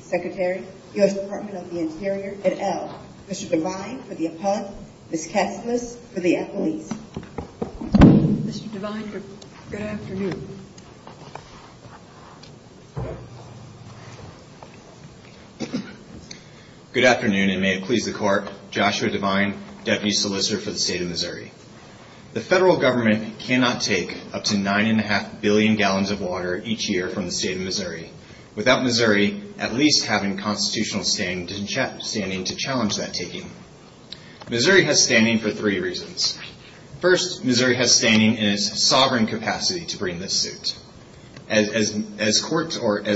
Secretary, U.S. Department of the Interior, et al. Mr. Devine for the op-ed, Ms. Katsilis for the accolades. Mr. Devine, good afternoon. Good afternoon and may it please the Court, Joshua Devine, Deputy Solicitor for the State of Missouri. The federal government cannot take up to 9.5 billion gallons of water each year from the State of Missouri. Without Missouri at least having constitutional standing to challenge that taking. Missouri has standing for three reasons. First, Missouri has standing in its sovereign capacity to bring this suit. As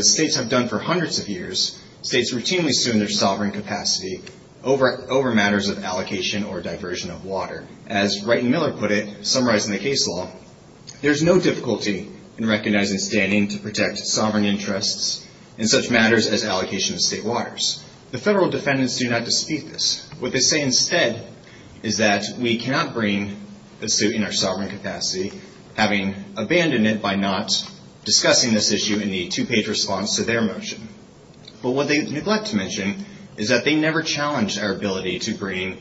states have done for hundreds of years, states routinely assume their sovereign capacity over matters of allocation or diversion of water. As Wright and Miller put it, summarizing the case law, there is no difficulty in recognizing standing to protect sovereign interests in such matters as allocation of state waters. The federal defendants do not dispute this. What they say instead is that we cannot bring the suit in our sovereign capacity, having abandoned it by not discussing this issue in the two-page response to their motion. But what they neglect to mention is that they never challenged our ability to bring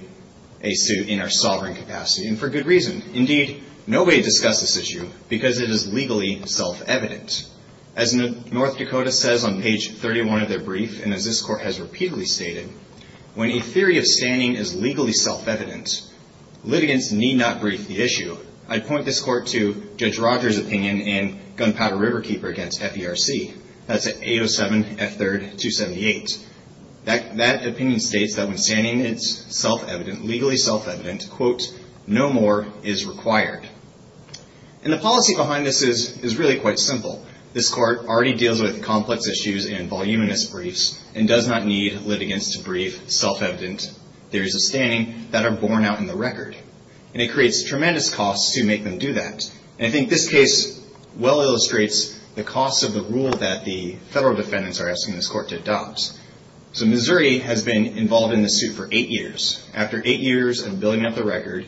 a suit in our sovereign capacity, and for good reason. Indeed, nobody discussed this issue because it is legally self-evident. As North Dakota says on page 31 of their brief, and as this state of standing is legally self-evident, litigants need not brief the issue. I'd point this court to Judge Rogers' opinion in Gunpowder Riverkeeper v. FERC. That's at 807 F3rd 278. That opinion states that when standing is self-evident, legally self-evident, quote, no more is required. And the policy behind this is really quite simple. This court already deals with complex issues and voluminous briefs and does not need litigants to brief self-evident theories of standing that are borne out in the record. And it creates tremendous costs to make them do that. And I think this case well illustrates the costs of the rule that the federal defendants are asking this court to adopt. So Missouri has been involved in the suit for eight years. After eight years of building up the record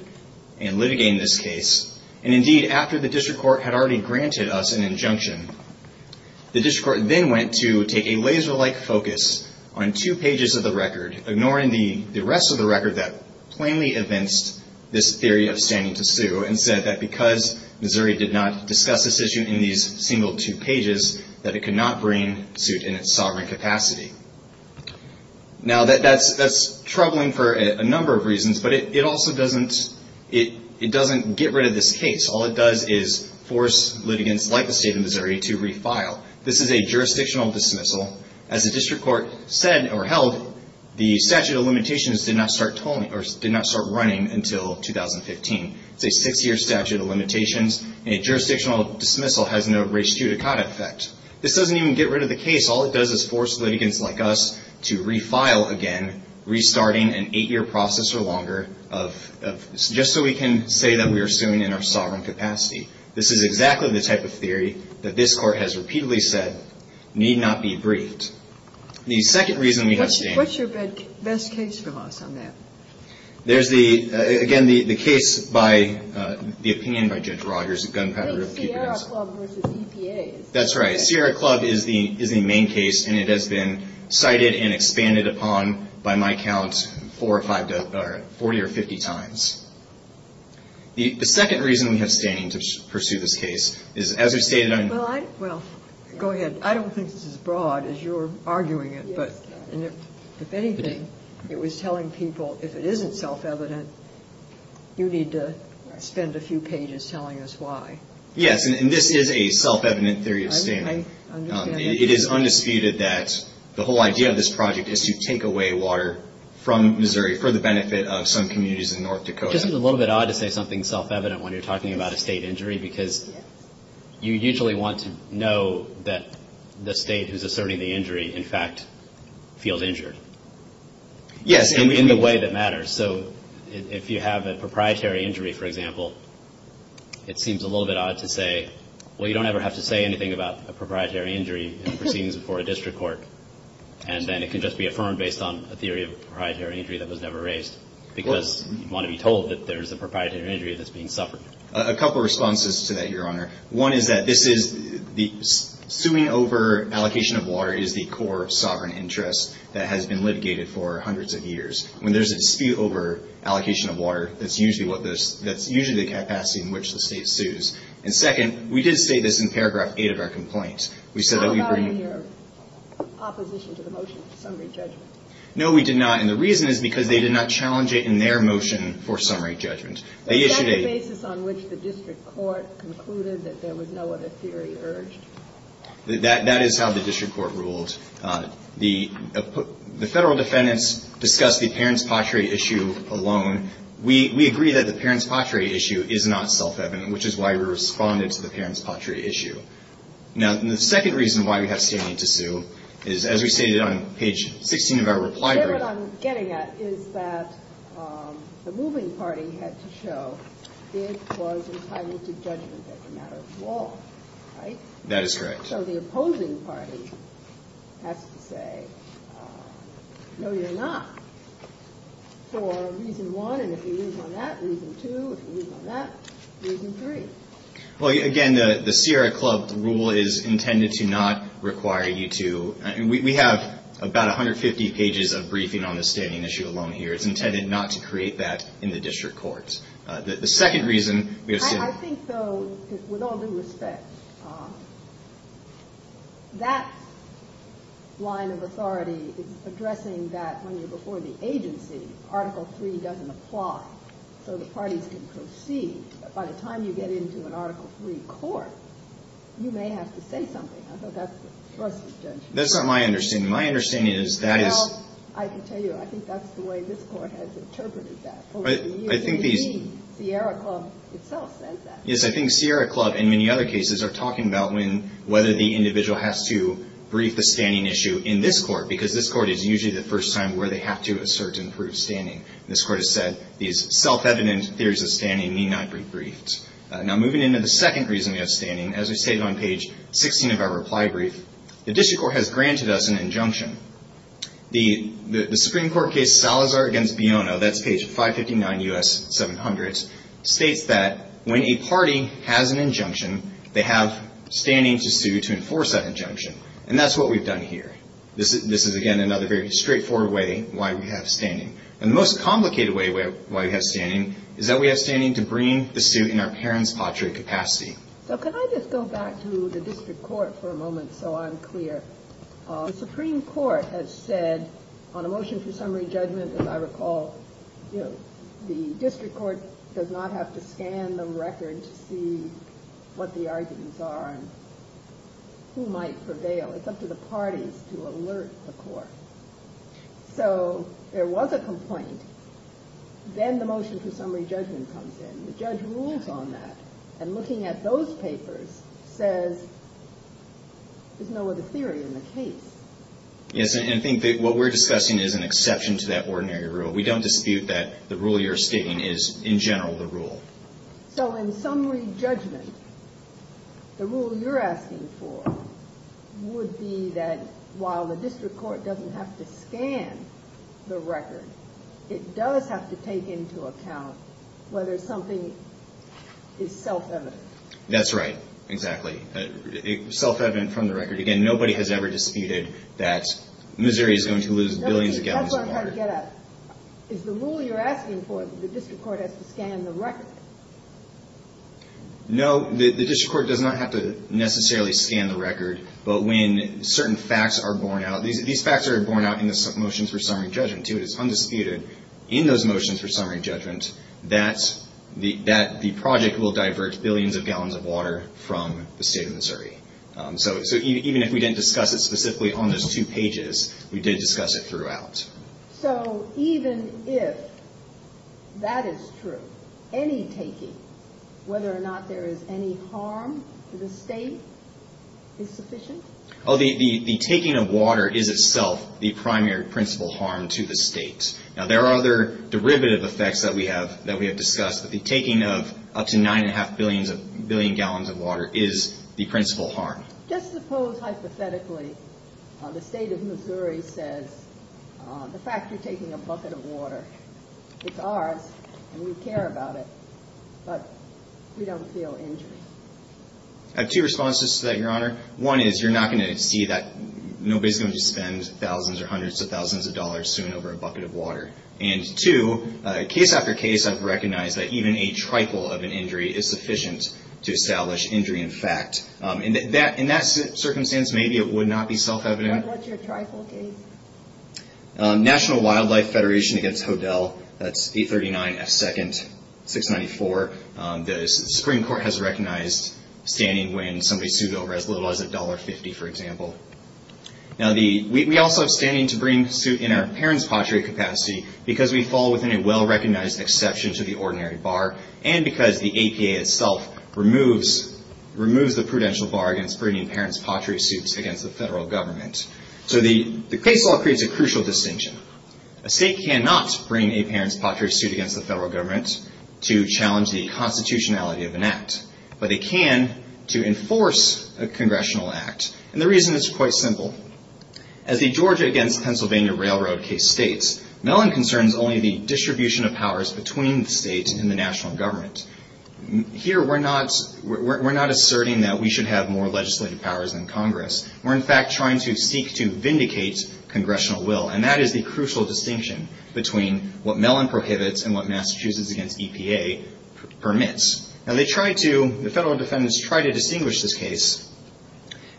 and litigating this case, and indeed after the district court had already granted us an injunction, the district court then went to take a laser-like focus on two pages of the record, ignoring the rest of the record that plainly evinced this theory of standing to sue and said that because Missouri did not discuss this issue in these single two pages, that it could not bring suit in its sovereign capacity. Now, that's troubling for a number of reasons, but it also doesn't get rid of this case. All it does is force litigants like the state of Missouri to refile. This is a jurisdictional dismissal. As the district court said or held, the statute of limitations did not start running until 2015. It's a six-year statute of limitations. A jurisdictional dismissal has no res judicata effect. This doesn't even get rid of the case. All it does is force litigants like us to refile again, restarting an eight-year process or longer, just so we can say that we are suing in our sovereign capacity. This is exactly the type of theory that this court has repeatedly said need not be briefed. The second reason we have standing What's your best case for us on that? There's the, again, the case by the opinion by Judge Rogers, the gunpowder The Sierra Club versus EPA. That's right. Sierra Club is the main case, and it has been cited and expanded upon by my count four or five, 40 or 50 times. The second reason we have standing to pursue this case is, as we've stated Well, go ahead. I don't think this is as broad as you're arguing it, but if anything, it was telling people, if it isn't self-evident, you need to spend a few pages telling us why. Yes, and this is a self-evident theory of standing. It is undisputed that the whole idea of this project is to take away water from Missouri for the benefit of some communities in North Dakota. Just a little bit odd to say something self-evident when you're talking about a state injury, because you usually want to know that the state who's asserting the injury, in fact, feels injured. Yes. In the way that matters. So if you have a proprietary injury, for example, it seems a little bit odd to say, well, you don't ever have to say anything about a proprietary injury in proceedings before a district court, and then it can just be affirmed based on a theory of a proprietary injury that was never raised, because you want to be told that there's a proprietary injury that's being suffered. A couple of responses to that, Your Honor. One is that this is the suing over allocation of water is the core of sovereign interest that has been litigated for hundreds of years. When there's a dispute over allocation of water, that's usually what this that's usually the capacity in which the state sues. And second, we did say this in paragraph eight of our complaint. We said that we bring How about in your opposition to the motion for summary judgment? No, we did not. And the reason is because they did not challenge it in their motion for summary judgment. They issued a On the basis on which the district court concluded that there was no other theory urged? That is how the district court ruled. The federal defendants discussed the parents' pottery issue alone. We agree that the parents' pottery issue is not self-evident, which is why we responded to the parents' pottery issue. Now, the second reason why we have standing to sue is, as we stated on page 16 of our reply brief What I'm getting at is that the moving party had to show it was entitled to judgment as a matter of law, right? That is correct. So the opposing party has to say, no, you're not, for reason one. And if you move on that, reason two. If you move on that, reason three. Well, again, the Sierra Club rule is intended to not require you to we have about 150 pages of briefing on the standing issue alone here. It's intended not to create that in the district court. The second reason we have seen I think, though, with all due respect, that line of authority is addressing that when you're before the agency, article three doesn't apply. So the parties can proceed. But by the time you get into an article three court, you may have to say something. I thought that's the trustee's judgment. That's not my understanding. My understanding is that is Well, I can tell you, I think that's the way this court has interpreted that. But I think these Sierra Club itself says that. Yes, I think Sierra Club and many other cases are talking about when whether the individual has to brief the standing issue in this court, because this court is usually the first time where they have to assert and prove standing. This court has said these self-evident theories of standing need not be briefed. Now, moving into the second reason we have standing, as we stated on page 16 of our reply brief, the district court has granted us an injunction. The Supreme Court case Salazar v. Biono, that's page 559 U.S. 700, states that when a party has an injunction, they have standing to sue to enforce that injunction. And that's what we've done here. This is, again, another very straightforward way why we have standing. And the most complicated way why we have standing is that we have standing to bring the suit in our parents' pottery capacity. So can I just go back to the district court for a moment, so I'm clear? The Supreme Court has said on a motion for summary judgment, as I recall, the district court does not have to scan the record to see what the arguments are and who might prevail. It's up to the parties to alert the court. So there was a complaint. Then the motion for summary judgment comes in. The judge rules on that. And looking at those papers says there's no other theory in the case. Yes, and I think what we're discussing is an exception to that ordinary rule. We don't dispute that the rule you're stating is, in general, the rule. So in summary judgment, the rule you're asking for would be that while the district court doesn't have to scan the record, it does have to take into account whether something is self-evident. That's right. Exactly. Self-evident from the record. Again, nobody has ever disputed that Missouri is going to lose billions of gallons of water. That's where I'm trying to get at. Is the rule you're asking for, the district court has to scan the record? No, the district court does not have to necessarily scan the record. But when certain facts are borne out, these facts are borne out in the motions for summary judgment, too. It is undisputed in those motions for summary judgment that the project will divert billions of gallons of water from the state of Missouri. So even if we didn't discuss it specifically on those two pages, we did discuss it throughout. So even if that is true, any taking, whether or not there is any harm to the state is sufficient? Oh, the taking of water is itself the primary principal harm to the state. Now, there are other derivative effects that we have discussed, but the taking of up to nine and a half billion gallons of water is the principal harm. Just suppose hypothetically the state of Missouri says, the fact you're taking a bucket of water, it's ours and we care about it, but we don't feel injured. I have two responses to that, Your Honor. One is you're not going to see that nobody's going to spend thousands or hundreds of thousands of dollars soon over a bucket of water. And two, case after case, I've recognized that even a trifle of an injury is sufficient to establish injury in fact. In that circumstance, maybe it would not be self-evident. What's your trifle case? National Wildlife Federation against Hodel. That's 839 F. 2nd, 694. The Supreme Court has recognized standing when somebody sued over as little as $1.50, for example. Now, we also have standing to bring suit in our parents' pottery capacity because we fall within a well-recognized exception to the ordinary bar and because the APA itself removes the prudential bar against bringing parents' pottery suits against the federal government. So the case law creates a crucial distinction. A state cannot bring a parents' pottery suit against the federal government to challenge the constitutionality of an act, but it can to enforce a congressional act. And the reason is quite simple. As the Georgia against Pennsylvania Railroad case states, Mellon concerns only the distribution of powers between the state and the national government. Here, we're not asserting that we should have more legislative powers than Congress. We're in fact trying to seek to vindicate congressional will. And that is the crucial distinction between what Mellon prohibits and what Massachusetts against EPA permits. Now, they try to, the federal defendants try to distinguish this case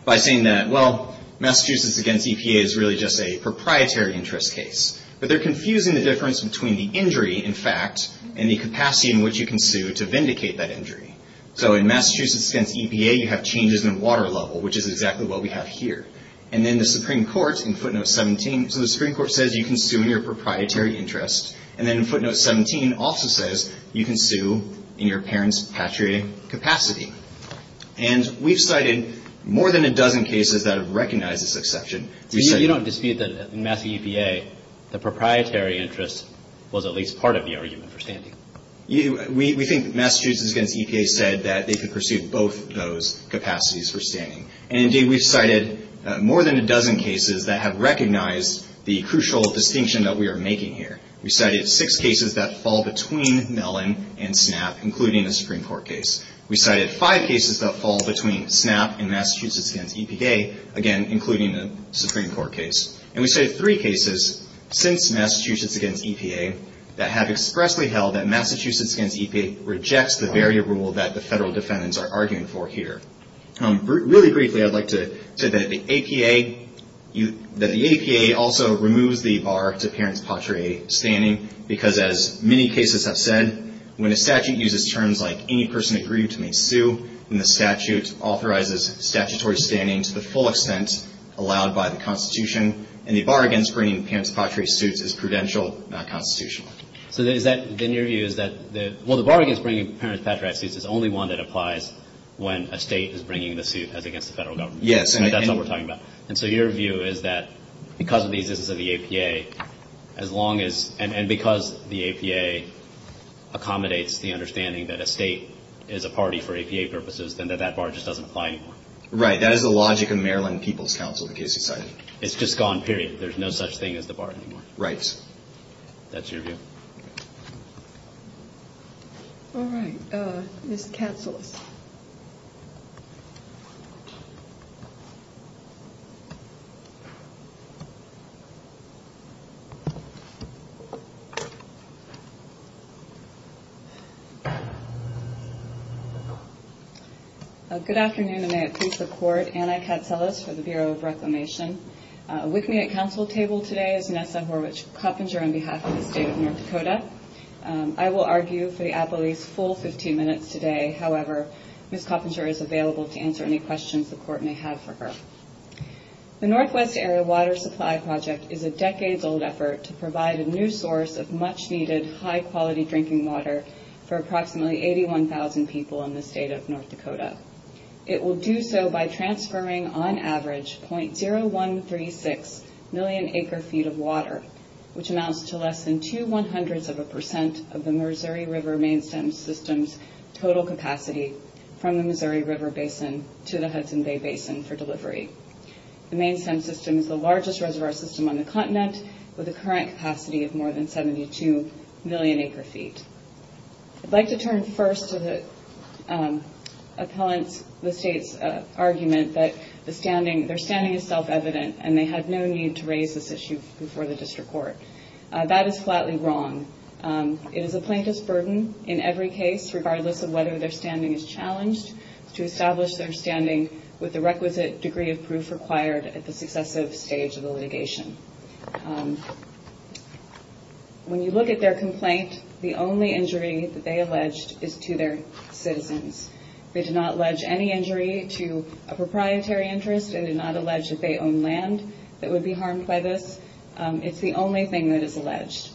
by saying that, well, Massachusetts against EPA is really just a proprietary interest case. But they're confusing the difference between the injury, in fact, and the capacity in which you can sue to vindicate that injury. So in Massachusetts against EPA, you have changes in water level, which is exactly what we have here. And then the Supreme Court, in footnote 17, so the Supreme Court says you can sue in your proprietary interest. And then footnote 17 also says you can sue in your parents' pottery capacity. And we've cited more than a dozen cases that have recognized this exception. So you don't dispute that in Massachusetts EPA, the proprietary interest was at least part of the argument for standing? We think Massachusetts against EPA said that they could pursue both those capacities for the crucial distinction that we are making here. We cited six cases that fall between Mellon and SNAP, including a Supreme Court case. We cited five cases that fall between SNAP and Massachusetts against EPA, again, including a Supreme Court case. And we cited three cases since Massachusetts against EPA that have expressly held that Massachusetts against EPA rejects the very rule that the federal defendants are arguing for here. Really briefly, I'd like to say that the APA, that the APA also removes the bar to parents' pottery standing, because as many cases have said, when a statute uses terms like any person agreed to may sue, then the statute authorizes statutory standing to the full extent allowed by the Constitution. And the bar against bringing parents' pottery suits is prudential, not constitutional. So is that, then your view is that the, well, the bar against bringing parents' pottery suits is only one that applies when a state is bringing the suit as against the federal government? Yes. And that's what we're talking about. And so your view is that because of the existence of the APA, as long as, and because the APA accommodates the understanding that a state is a party for APA purposes, then that that bar just doesn't apply anymore. Right. That is the logic of Maryland People's Council, the case you cited. It's just gone, period. There's no such thing as the bar anymore. Right. That's your view. All right. Ms. Katselis. Good afternoon, and may it please the Court, Anna Katselis for the Bureau of Reclamation. With me at council table today is Vanessa Horwich-Coppinger on behalf of the State of North Dakota. I will argue for the appellee's full 15 minutes today. However, Ms. Coppinger is available to answer any questions the Court may have for her. The Northwest Area Water Supply Project is a decades-old effort to provide a new source of much-needed, high-quality drinking water for approximately 81,000 people in the State of North Dakota. It will do so by transferring, on average, 0.0136 million acre-feet of water, which amounts to less than two one-hundredths of a percent of the Missouri River main stem system's total capacity from the Missouri River Basin to the Hudson Bay Basin for delivery. The main stem system is the largest reservoir system on the continent, with a current capacity of more than 72 million acre-feet. I'd like to turn first to the State's argument that their standing is self-evident, and they have no need to raise this issue before the District Court. That is flatly wrong. It is a plaintiff's burden in every case, regardless of whether their standing is challenged, to establish their standing with the requisite degree of proof required at the successive stage of the litigation. When you look at their complaint, the only injury that they alleged is to their citizens. They did not allege any injury to a proprietary interest. They did not allege that they own land that would be harmed by this. It's the only thing that is alleged.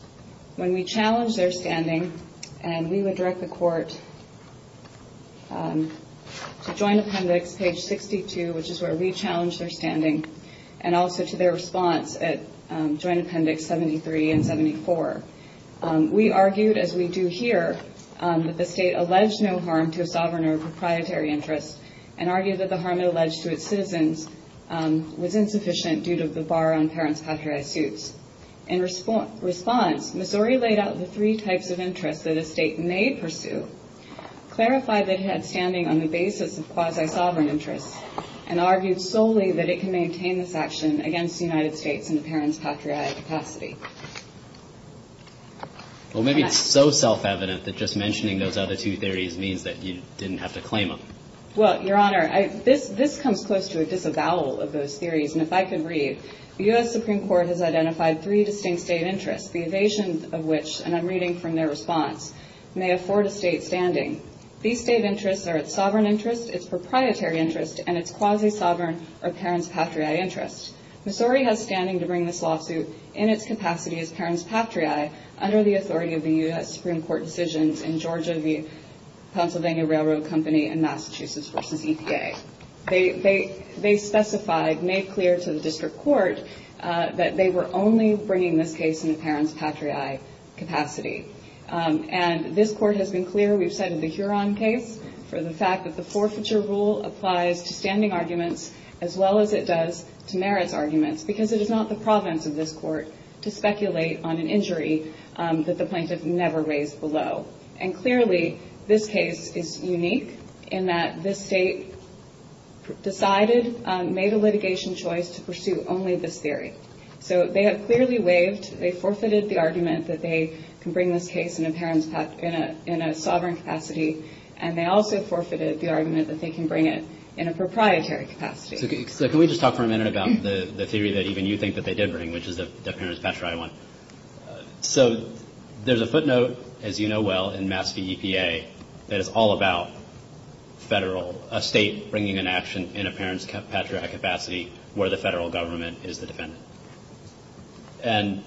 When we challenged their standing, and we would direct the Court to Joint Appendix, page 62, which is where we challenged their standing, and also to their response at Joint Appendix 73 and 74, we argued, as we do here, that the State alleged no harm to a sovereign or a proprietary interest, and argued that the harm it alleged to its citizens was insufficient due to the bar on parent's patriotic suits. In response, Missouri laid out the three types of interests that a State may pursue, clarified that it had standing on the basis of quasi-sovereign interests, and argued solely that it can maintain this action against the United States in a parent's patriotic capacity. Well, maybe it's so self-evident that just mentioning those other two theories means that you didn't have to claim them. Well, Your Honor, this comes close to a disavowal of those theories, and if I could read, the U.S. Supreme Court has identified three distinct State interests, the evasion of which, and I'm reading from their response, may afford a State standing. These State interests are its sovereign interest, its proprietary interest, and its quasi-sovereign or parent's patriotic interest. Missouri has standing to bring this lawsuit in its capacity as parent's patriae under the authority of the U.S. Supreme Court decisions in Georgia v. Pennsylvania Railroad Company and Massachusetts v. EPA. They specified, made clear to the District Court that they were only bringing this case in a parent's patriae capacity, and this Court has been clear, we've cited the Huron case for the fact that the forfeiture rule applies to standing to Merritt's arguments, because it is not the province of this Court to speculate on an injury that the plaintiff never raised below. And clearly, this case is unique in that this State decided, made a litigation choice to pursue only this theory. So they have clearly waived, they forfeited the argument that they can bring this case in a parent's patriae, in a sovereign capacity, and they also forfeited the argument that they can bring it in a proprietary capacity. So can we just talk for a minute about the theory that even you think that they did bring, which is the parent's patriae one? So there's a footnote, as you know well, in Mass v. EPA that is all about Federal, a State bringing an action in a parent's patriae capacity where the Federal Government is the defendant. And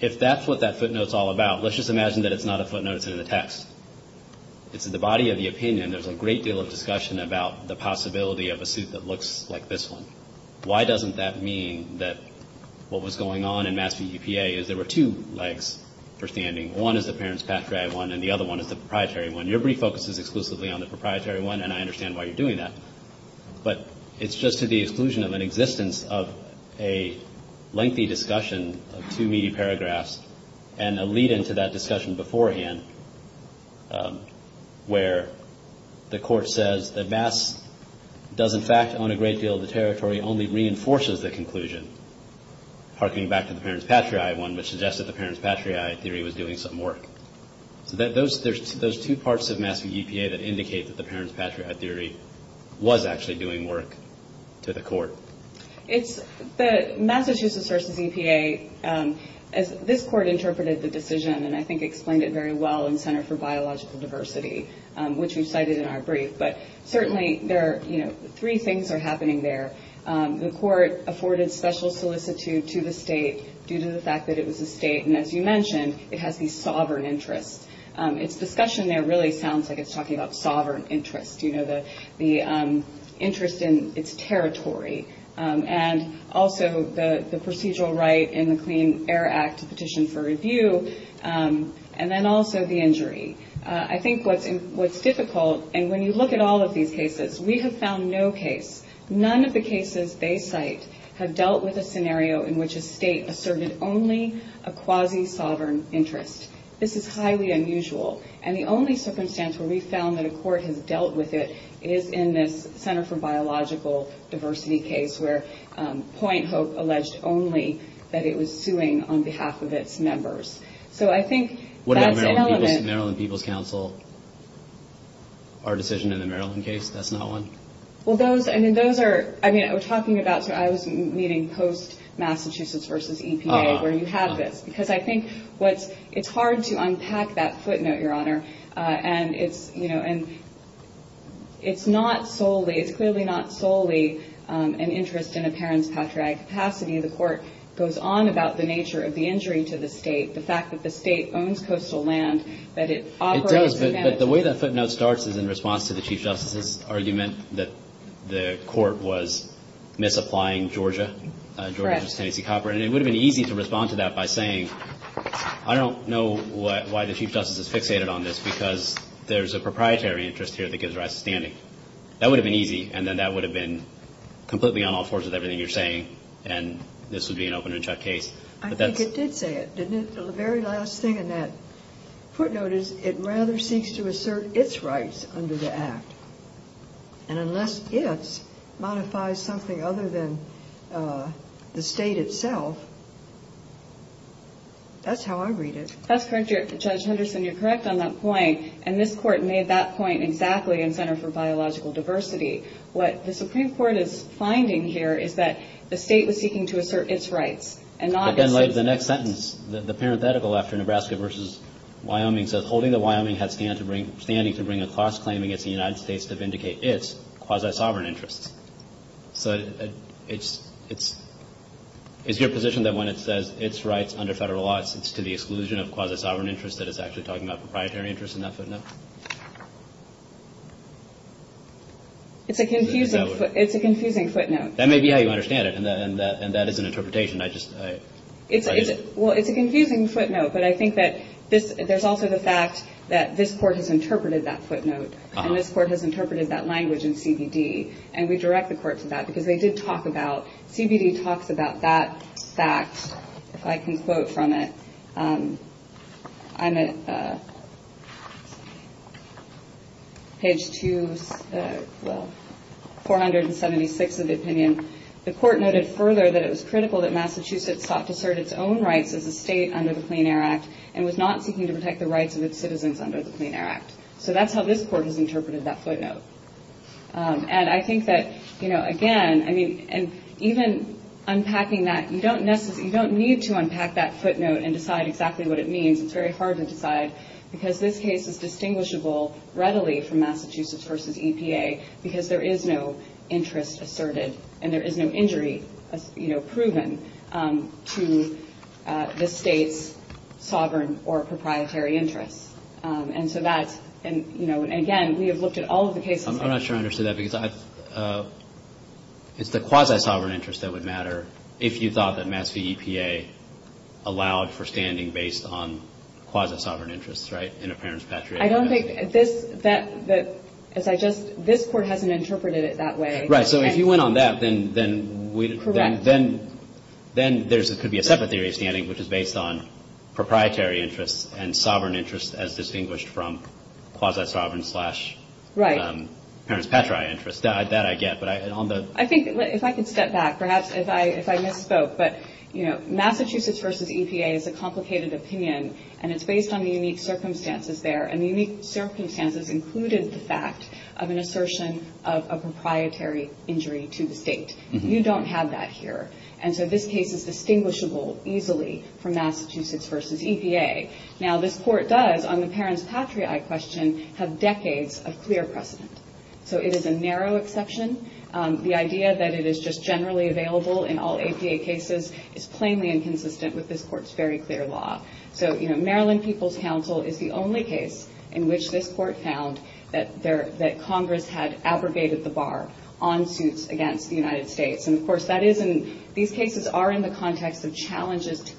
if that's what that footnote's all about, let's just imagine that it's not a footnote, it's in the text. It's in the statute that looks like this one. Why doesn't that mean that what was going on in Mass v. EPA is there were two legs for standing? One is the parent's patriae one, and the other one is the proprietary one. Your brief focuses exclusively on the proprietary one, and I understand why you're doing that. But it's just to the exclusion of an existence of a lengthy discussion of two meaty paragraphs and a lead-in to that discussion beforehand where the Court says that Mass does, in fact, own a great deal of the territory, only reinforces the conclusion. Harkening back to the parent's patriae one, which suggests that the parent's patriae theory was doing some work. So there's two parts of Mass v. EPA that indicate that the parent's patriae theory was actually doing work to the Court. It's the Massachusetts v. EPA, as this Court interpreted the decision, and I think explained it very well in Center for Biological Diversity, which we've cited in our brief, but certainly there are three things that are happening there. The Court afforded special solicitude to the state due to the fact that it was a state, and as you mentioned, it has these sovereign interests. Its discussion there really sounds like it's talking about sovereign interests, the interest in its territory, and also the procedural right in the Clean Air Act to petition for review, and then also the injury. I think what's difficult, and when you look at all of these cases, we have found no case, none of the cases they cite have dealt with a scenario in which a state asserted only a quasi-sovereign interest. This is highly unusual, and the only circumstance where we've found that a Court has dealt with it is in this Center for Biological Diversity case, where Point Hope alleged only that it was suing on behalf of its members. So I think that's an element. What about the Maryland People's Council, our decision in the Maryland case? That's not one? Well, those, I mean, those are, I mean, we're talking about, so I was meeting post-Massachusetts versus EPA, where you have this, because I think what's, it's hard to unpack that footnote, Your Honor, and it's, you know, and it's not solely, it's clearly not solely an interest in a parent's patriotic capacity. The Court goes on about the nature of the injury to the state, the fact that the state owns coastal land, that it operates and manages It does, but the way that footnote starts is in response to the Chief Justice's argument that the Court was misapplying Georgia, Georgia's Tennessee copper, and it would have been easy to respond to that by saying, I don't know why the Chief Justice is fixated on this, because there's a proprietary interest here that gives rise to standing. That would have been easy, and then that would have been completely on all fours with everything you're saying, and this would be an open and shut case. I think it did say it, didn't it? The very last thing in that footnote is, it rather seeks to assert its rights under the Act, and unless its modifies something other than the state itself, that's how I read it. That's correct, Judge Henderson, you're correct on that point, and this Court made that point exactly in Center for Biological Diversity. What the Supreme Court is finding here is that the state was seeking to assert its rights, and not But then later, the next sentence, the parenthetical after Nebraska versus Wyoming says, holding that Wyoming had standing to bring a class claim against the United States to vindicate its quasi-sovereign interests. So it's your position that when it says its rights under federal law, it's to the exclusion of quasi-sovereign interests that it's actually talking about proprietary interests in that footnote? It's a confusing footnote. That may be how you understand it, and that is an interpretation, I just Well, it's a confusing footnote, but I think that there's also the fact that this Court has interpreted that footnote, and this Court has interpreted that language in CBD, and we direct the Court to that, because they did talk about, CBD talks about that fact, if I can quote from it. I'm at page 476 of the opinion. The Court noted further that it was critical that Massachusetts sought to assert its own rights as a state under the Clean Air Act, and was not seeking to protect the rights of its citizens under the Clean Air Act. So that's how this Court has interpreted that footnote. And I think that, again, even unpacking that, you don't need to unpack that footnote and decide exactly what it means. It's very hard to decide, because this case is distinguishable readily from Massachusetts v. EPA, because there is no interest asserted, and there is no injury proven to the state's sovereign or proprietary interests. And so that's, and you know, again, we have looked at all of the cases I'm not sure I understood that, because it's the quasi-sovereign interests that would matter if you thought that Mass V. EPA allowed for standing based on quasi-sovereign interests, right, in a parents-patriotic state. I don't think this, that, as I just, this Court hasn't interpreted it that way. Right, so if you went on that, then we'd, then there could be a separate theory of standing which is based on proprietary interests and sovereign interests as distinguished from quasi-sovereign slash parents-patriotic interests. That I get, but on the I think, if I could step back, perhaps if I misspoke, but Massachusetts v. EPA is a unique circumstances there, and the unique circumstances included the fact of an assertion of a proprietary injury to the state. You don't have that here. And so this case is distinguishable easily from Massachusetts v. EPA. Now this Court does, on the parents-patriotic question, have decades of clear precedent. So it is a narrow exception. The idea that it is just generally available in all EPA cases is plainly inconsistent with this Court's very clear law. So, you know, Maryland People's Council is the only case in which this Court found that there, that Congress had abrogated the bar on suits against the United States. And of course that is, and these cases are in the context of challenges to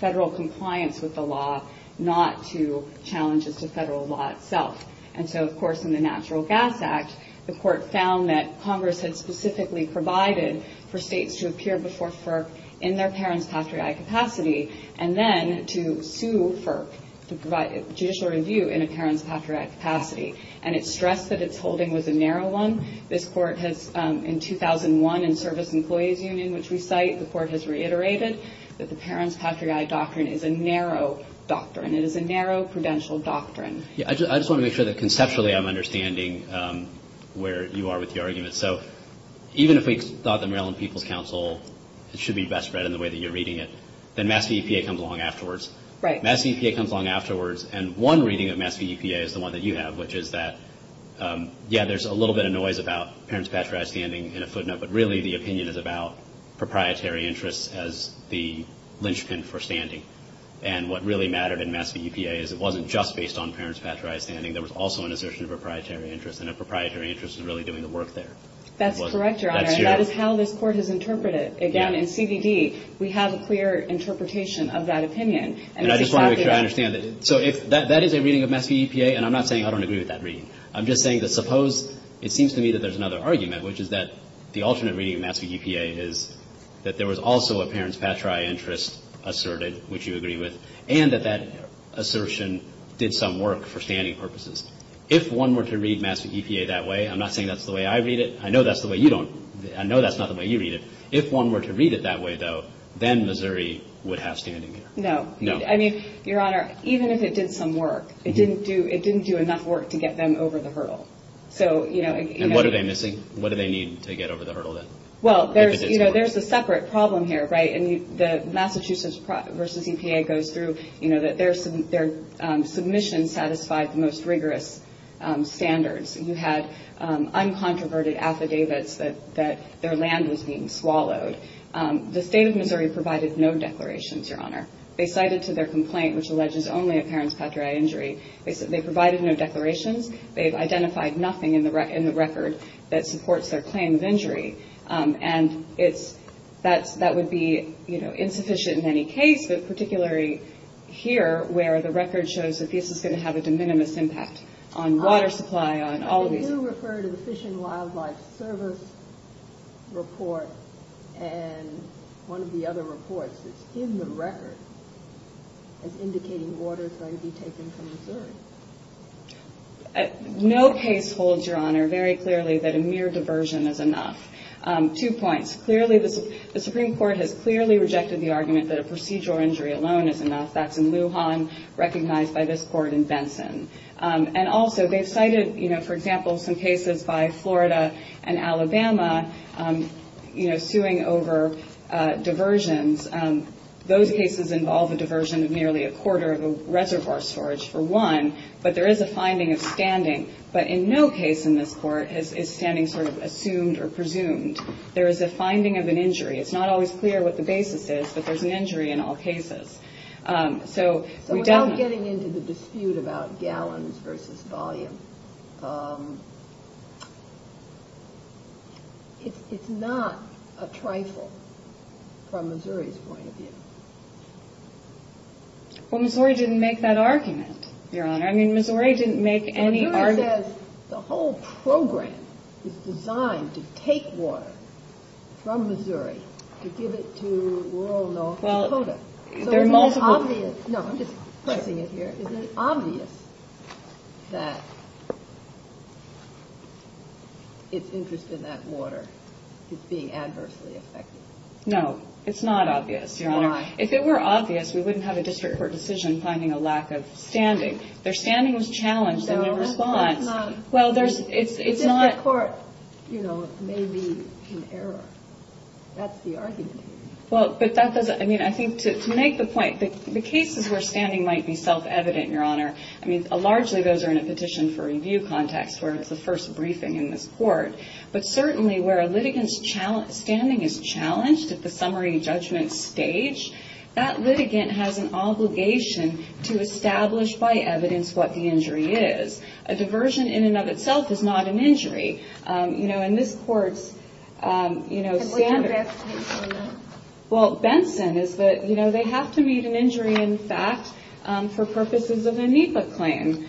federal compliance with the law, not to challenges to federal law itself. And so, of course, in the Natural Gas Act, the Court found that Congress had specifically provided for states to appear before FERC in their parents' patriotic capacity, and then to sue FERC to provide judicial review in a parents' patriotic capacity. And it stressed that its holding was a narrow one. This Court has, in 2001, in Service Employees Union, which we cite, the Court has reiterated that the parents' patriotic doctrine is a narrow doctrine. It is a narrow prudential doctrine. Yeah, I just want to make sure that conceptually I'm understanding where you are with your it should be best read in the way that you're reading it. Then Mass. v. EPA comes along afterwards. Right. Mass. v. EPA comes along afterwards, and one reading of Mass. v. EPA is the one that you have, which is that, yeah, there's a little bit of noise about parents' patriotic standing in a footnote, but really the opinion is about proprietary interests as the linchpin for standing. And what really mattered in Mass. v. EPA is it wasn't just based on parents' patriotic standing. There was also an assertion of proprietary interests, and a proprietary interest is really doing the work there. That's correct, Your Honor. That's true. And that is how this Court has interpreted it. Again, in CVD, we have a clear interpretation of that opinion. And I just want to make sure I understand. So if that is a reading of Mass. v. EPA, and I'm not saying I don't agree with that reading. I'm just saying that suppose it seems to me that there's another argument, which is that the alternate reading of Mass. v. EPA is that there was also a parents' patriotic interest asserted, which you agree with, and that that assertion did some work for standing purposes. If one were to read Mass. v. EPA that way – I'm not saying that's the way I read it. I know that's not the way you read it. If one were to read it that way, though, then Missouri would have standing here. No. No. I mean, Your Honor, even if it did some work, it didn't do enough work to get them over the hurdle. And what are they missing? What do they need to get over the hurdle, then? Well, there's a separate problem here, right? And Mass. v. EPA goes through that their submissions satisfied the most rigorous standards. You had uncontroverted affidavits that their land was being swallowed. The State of Missouri provided no declarations, Your Honor. They cited to their complaint, which alleges only a parents' patriotic injury, they provided no declarations. They've identified nothing in the record that supports their claim of injury. And that would be insufficient in any case, but particularly here, where the claims have a de minimis impact on water supply, on all of these... But you refer to the Fish and Wildlife Service report and one of the other reports that's in the record as indicating water is going to be taken from Missouri. No case holds, Your Honor, very clearly that a mere diversion is enough. Two points. Clearly, the Supreme Court has clearly rejected the argument that a procedural injury alone is And also, they've cited, you know, for example, some cases by Florida and Alabama, you know, suing over diversions. Those cases involve a diversion of nearly a quarter of a reservoir storage for one, but there is a finding of standing. But in no case in this Court is standing sort of assumed or presumed. There is a finding of an injury. It's not always clear what the basis is, but there's an injury in all cases. So without getting into the dispute about gallons versus volume, it's not a trifle from Missouri's point of view. Well, Missouri didn't make that argument, Your Honor. I mean, Missouri didn't make any argument... Well, Missouri says the whole program is designed to take water from Missouri to give it to rural North Dakota. So isn't it obvious that its interest in that water is being adversely affected? No, it's not obvious, Your Honor. Why? If it were obvious, we wouldn't have a district court decision finding a lack of standing. Their standing was challenged and their response... No, that's not... Well, there's... It's just that court, you know, may be in error. That's the argument. Well, but that doesn't... I mean, I think to make the point, the cases where standing might be self-evident, Your Honor, I mean, largely those are in a petition for review context where it's the first briefing in this Court. But certainly where a litigant's standing is challenged at the summary judgment stage, that litigant has an obligation to establish by evidence what the injury is. A diversion in and of itself is not an injury. You know, in this Court's, you know, standard... Well, Benson is that, you know, they have to meet an injury in fact for purposes of a NEPA claim,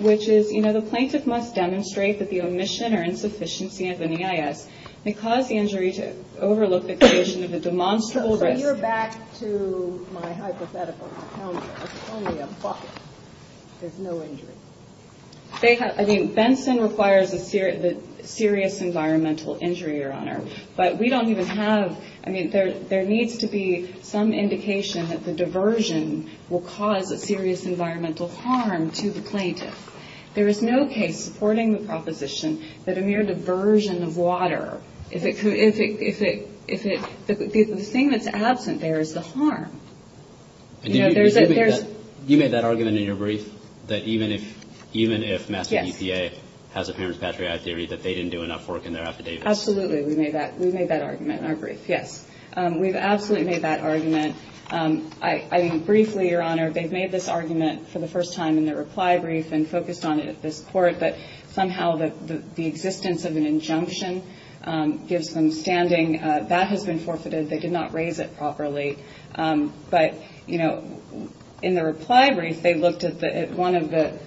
which is, you know, the plaintiff must demonstrate that the omission or insufficiency of an EIS may cause the injury to overlook the condition of a demonstrable risk. So you're back to my hypothetical encounter. It's only a bucket. There's no injury. They have... I mean, Benson requires a serious environmental injury, Your Honor. But we don't even have... I mean, there needs to be some indication that the diversion will cause a serious environmental harm to the plaintiff. There is no case supporting the proposition that a mere diversion of water, if it... The thing that's absent there is the harm. You know, there's... You made that argument in your brief that even if Master EPA has a parent's patriotic theory that they didn't do enough work in their affidavits? Absolutely, we made that argument in our brief, yes. We've absolutely made that argument. I mean, briefly, Your Honor, they've made this argument for the first time in their reply brief and focused on it at this Court, but somehow the existence of an injunction gives them standing. That has been forfeited. They did not raise it properly. But, you know, in the reply brief, they looked at one of the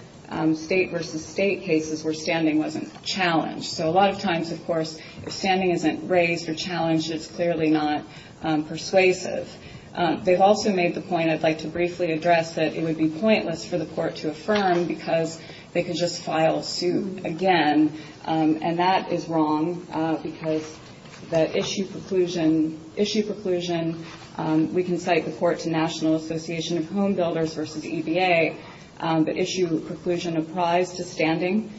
state versus state cases where standing wasn't challenged. So a lot of times, of course, if standing isn't raised or challenged, it's clearly not persuasive. They've also made the point, I'd like to briefly address it, it would be pointless for the Court to affirm because they could just file a suit again. And that is wrong because the issue preclusion... Issue preclusion, we can cite the court to National Association of Home Builders versus EPA, but issue preclusion apprised to standing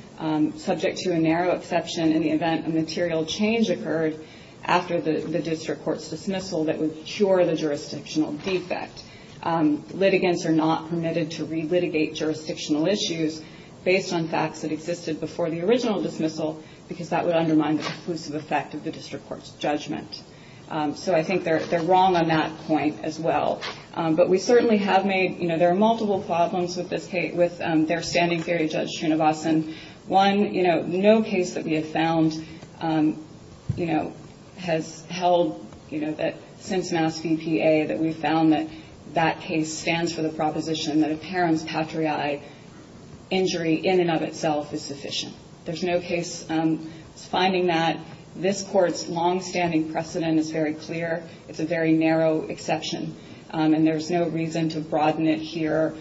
subject to a narrow exception in the event a material change occurred after the district court's dismissal that would cure the jurisdictional defect. Litigants are not permitted to re-litigate jurisdictional issues based on facts that existed before the original dismissal because that would undermine the conclusive effect of the district court's judgment. So I think they're wrong on that point as well. But we certainly have made, you know, there are multiple problems with this case, with their standing theory, Judge Srinivasan. One, you know, no case that we have found, you know, has held, you know, that since MassVPA that we've found that that case stands for the proposition that a parent's patriae injury in and of itself is sufficient. There's no case finding that. This Court's longstanding precedent is very clear. It's a very narrow exception. And there's no reason to broaden it here.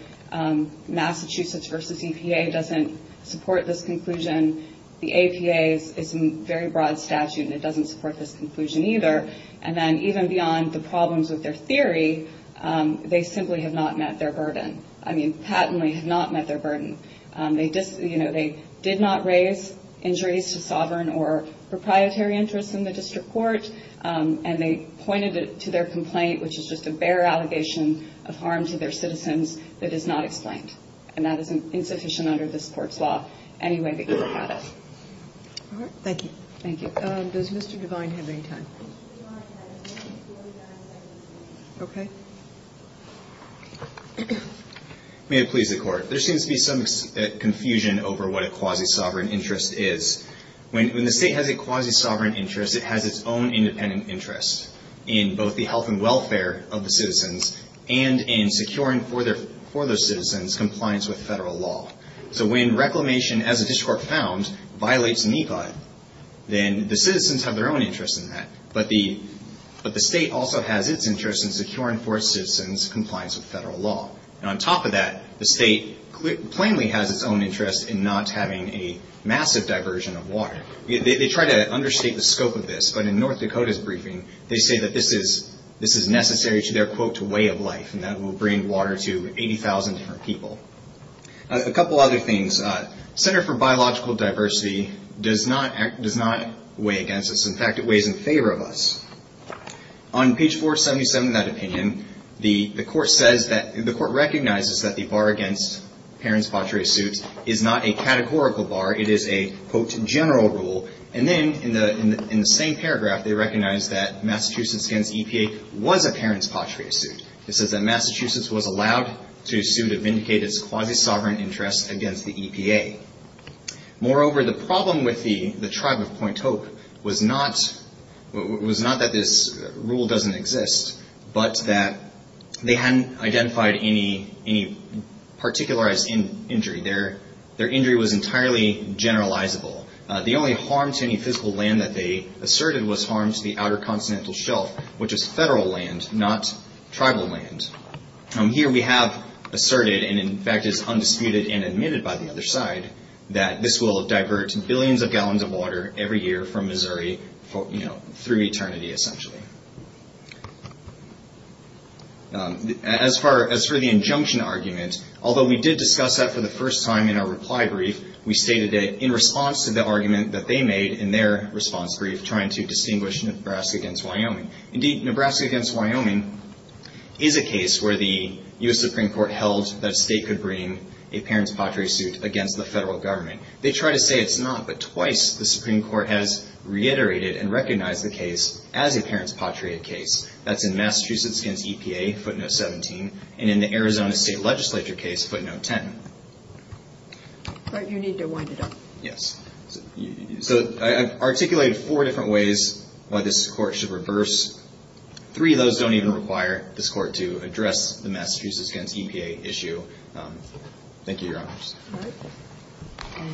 Massachusetts versus EPA doesn't support this conclusion. The APA is a very broad statute and it doesn't support this conclusion either. And then even beyond the problems with their theory, they simply have not met their burden. I mean, patently have not met their burden. You know, they did not raise injuries to sovereign or proprietary interests in the district court. And they pointed it to their complaint, which is just a bare allegation of harm to their citizens that is not explained. And that is insufficient under this Court's law any way that you look at it. All right. Thank you. Thank you. Does Mr. Devine have any time? Okay. May it please the Court. There seems to be some confusion over what a quasi-sovereign interest is. When the State has a quasi-sovereign interest, it has its own independent interest in both the health and welfare of the citizens and in securing for those citizens compliance with Federal law. So when reclamation, as the district court found, violates NECOD, then the citizens have their own interest in that. But the State also has its interest in securing for citizens compliance with Federal law. And on top of that, the State plainly has its own interest in not having a massive diversion of water. They try to understate the scope of this, but in North Dakota's briefing, they say that this is necessary to their, quote, way of life and that it will bring water to 80,000 different people. A couple other things. Center for Biological Diversity does not weigh against us. In fact, it weighs in favor of us. On page 477 of that opinion, the Court says that, the Court recognizes that the bar against parents' patriae suits is not a categorical bar. It is a, quote, general rule. And then in the same paragraph, they recognize that Massachusetts against EPA was a parents' patriae suit. It says that Massachusetts was allowed to sue to vindicate its quasi-sovereign interest against the EPA. Moreover, the problem with the tribe of Point Hope was not that this rule doesn't exist, but that they hadn't identified any particularized injury. Their injury was entirely generalizable. The only harm to any physical land that they asserted was harm to the outer continental shelf, which is federal land, not tribal land. Here we have asserted, and in fact is undisputed and admitted by the other side, that this will divert billions of gallons of water every year from Missouri, you know, through eternity, essentially. As for the injunction argument, although we did discuss that for the first time in our reply brief, we stated it in response to the argument that they made in their response brief to trying to distinguish Nebraska against Wyoming. Indeed, Nebraska against Wyoming is a case where the U.S. Supreme Court held that a state could bring a parents' patriae suit against the federal government. They try to say it's not, but twice the Supreme Court has reiterated and recognized the case as a parents' patriae case. That's in Massachusetts against EPA, footnote 17, and in the Arizona State Legislature case, footnote 10. But you need to wind it up. Yes. So I've articulated four different ways why this court should reverse. Three of those don't even require this court to address the Massachusetts against EPA issue. Thank you, Your Honors.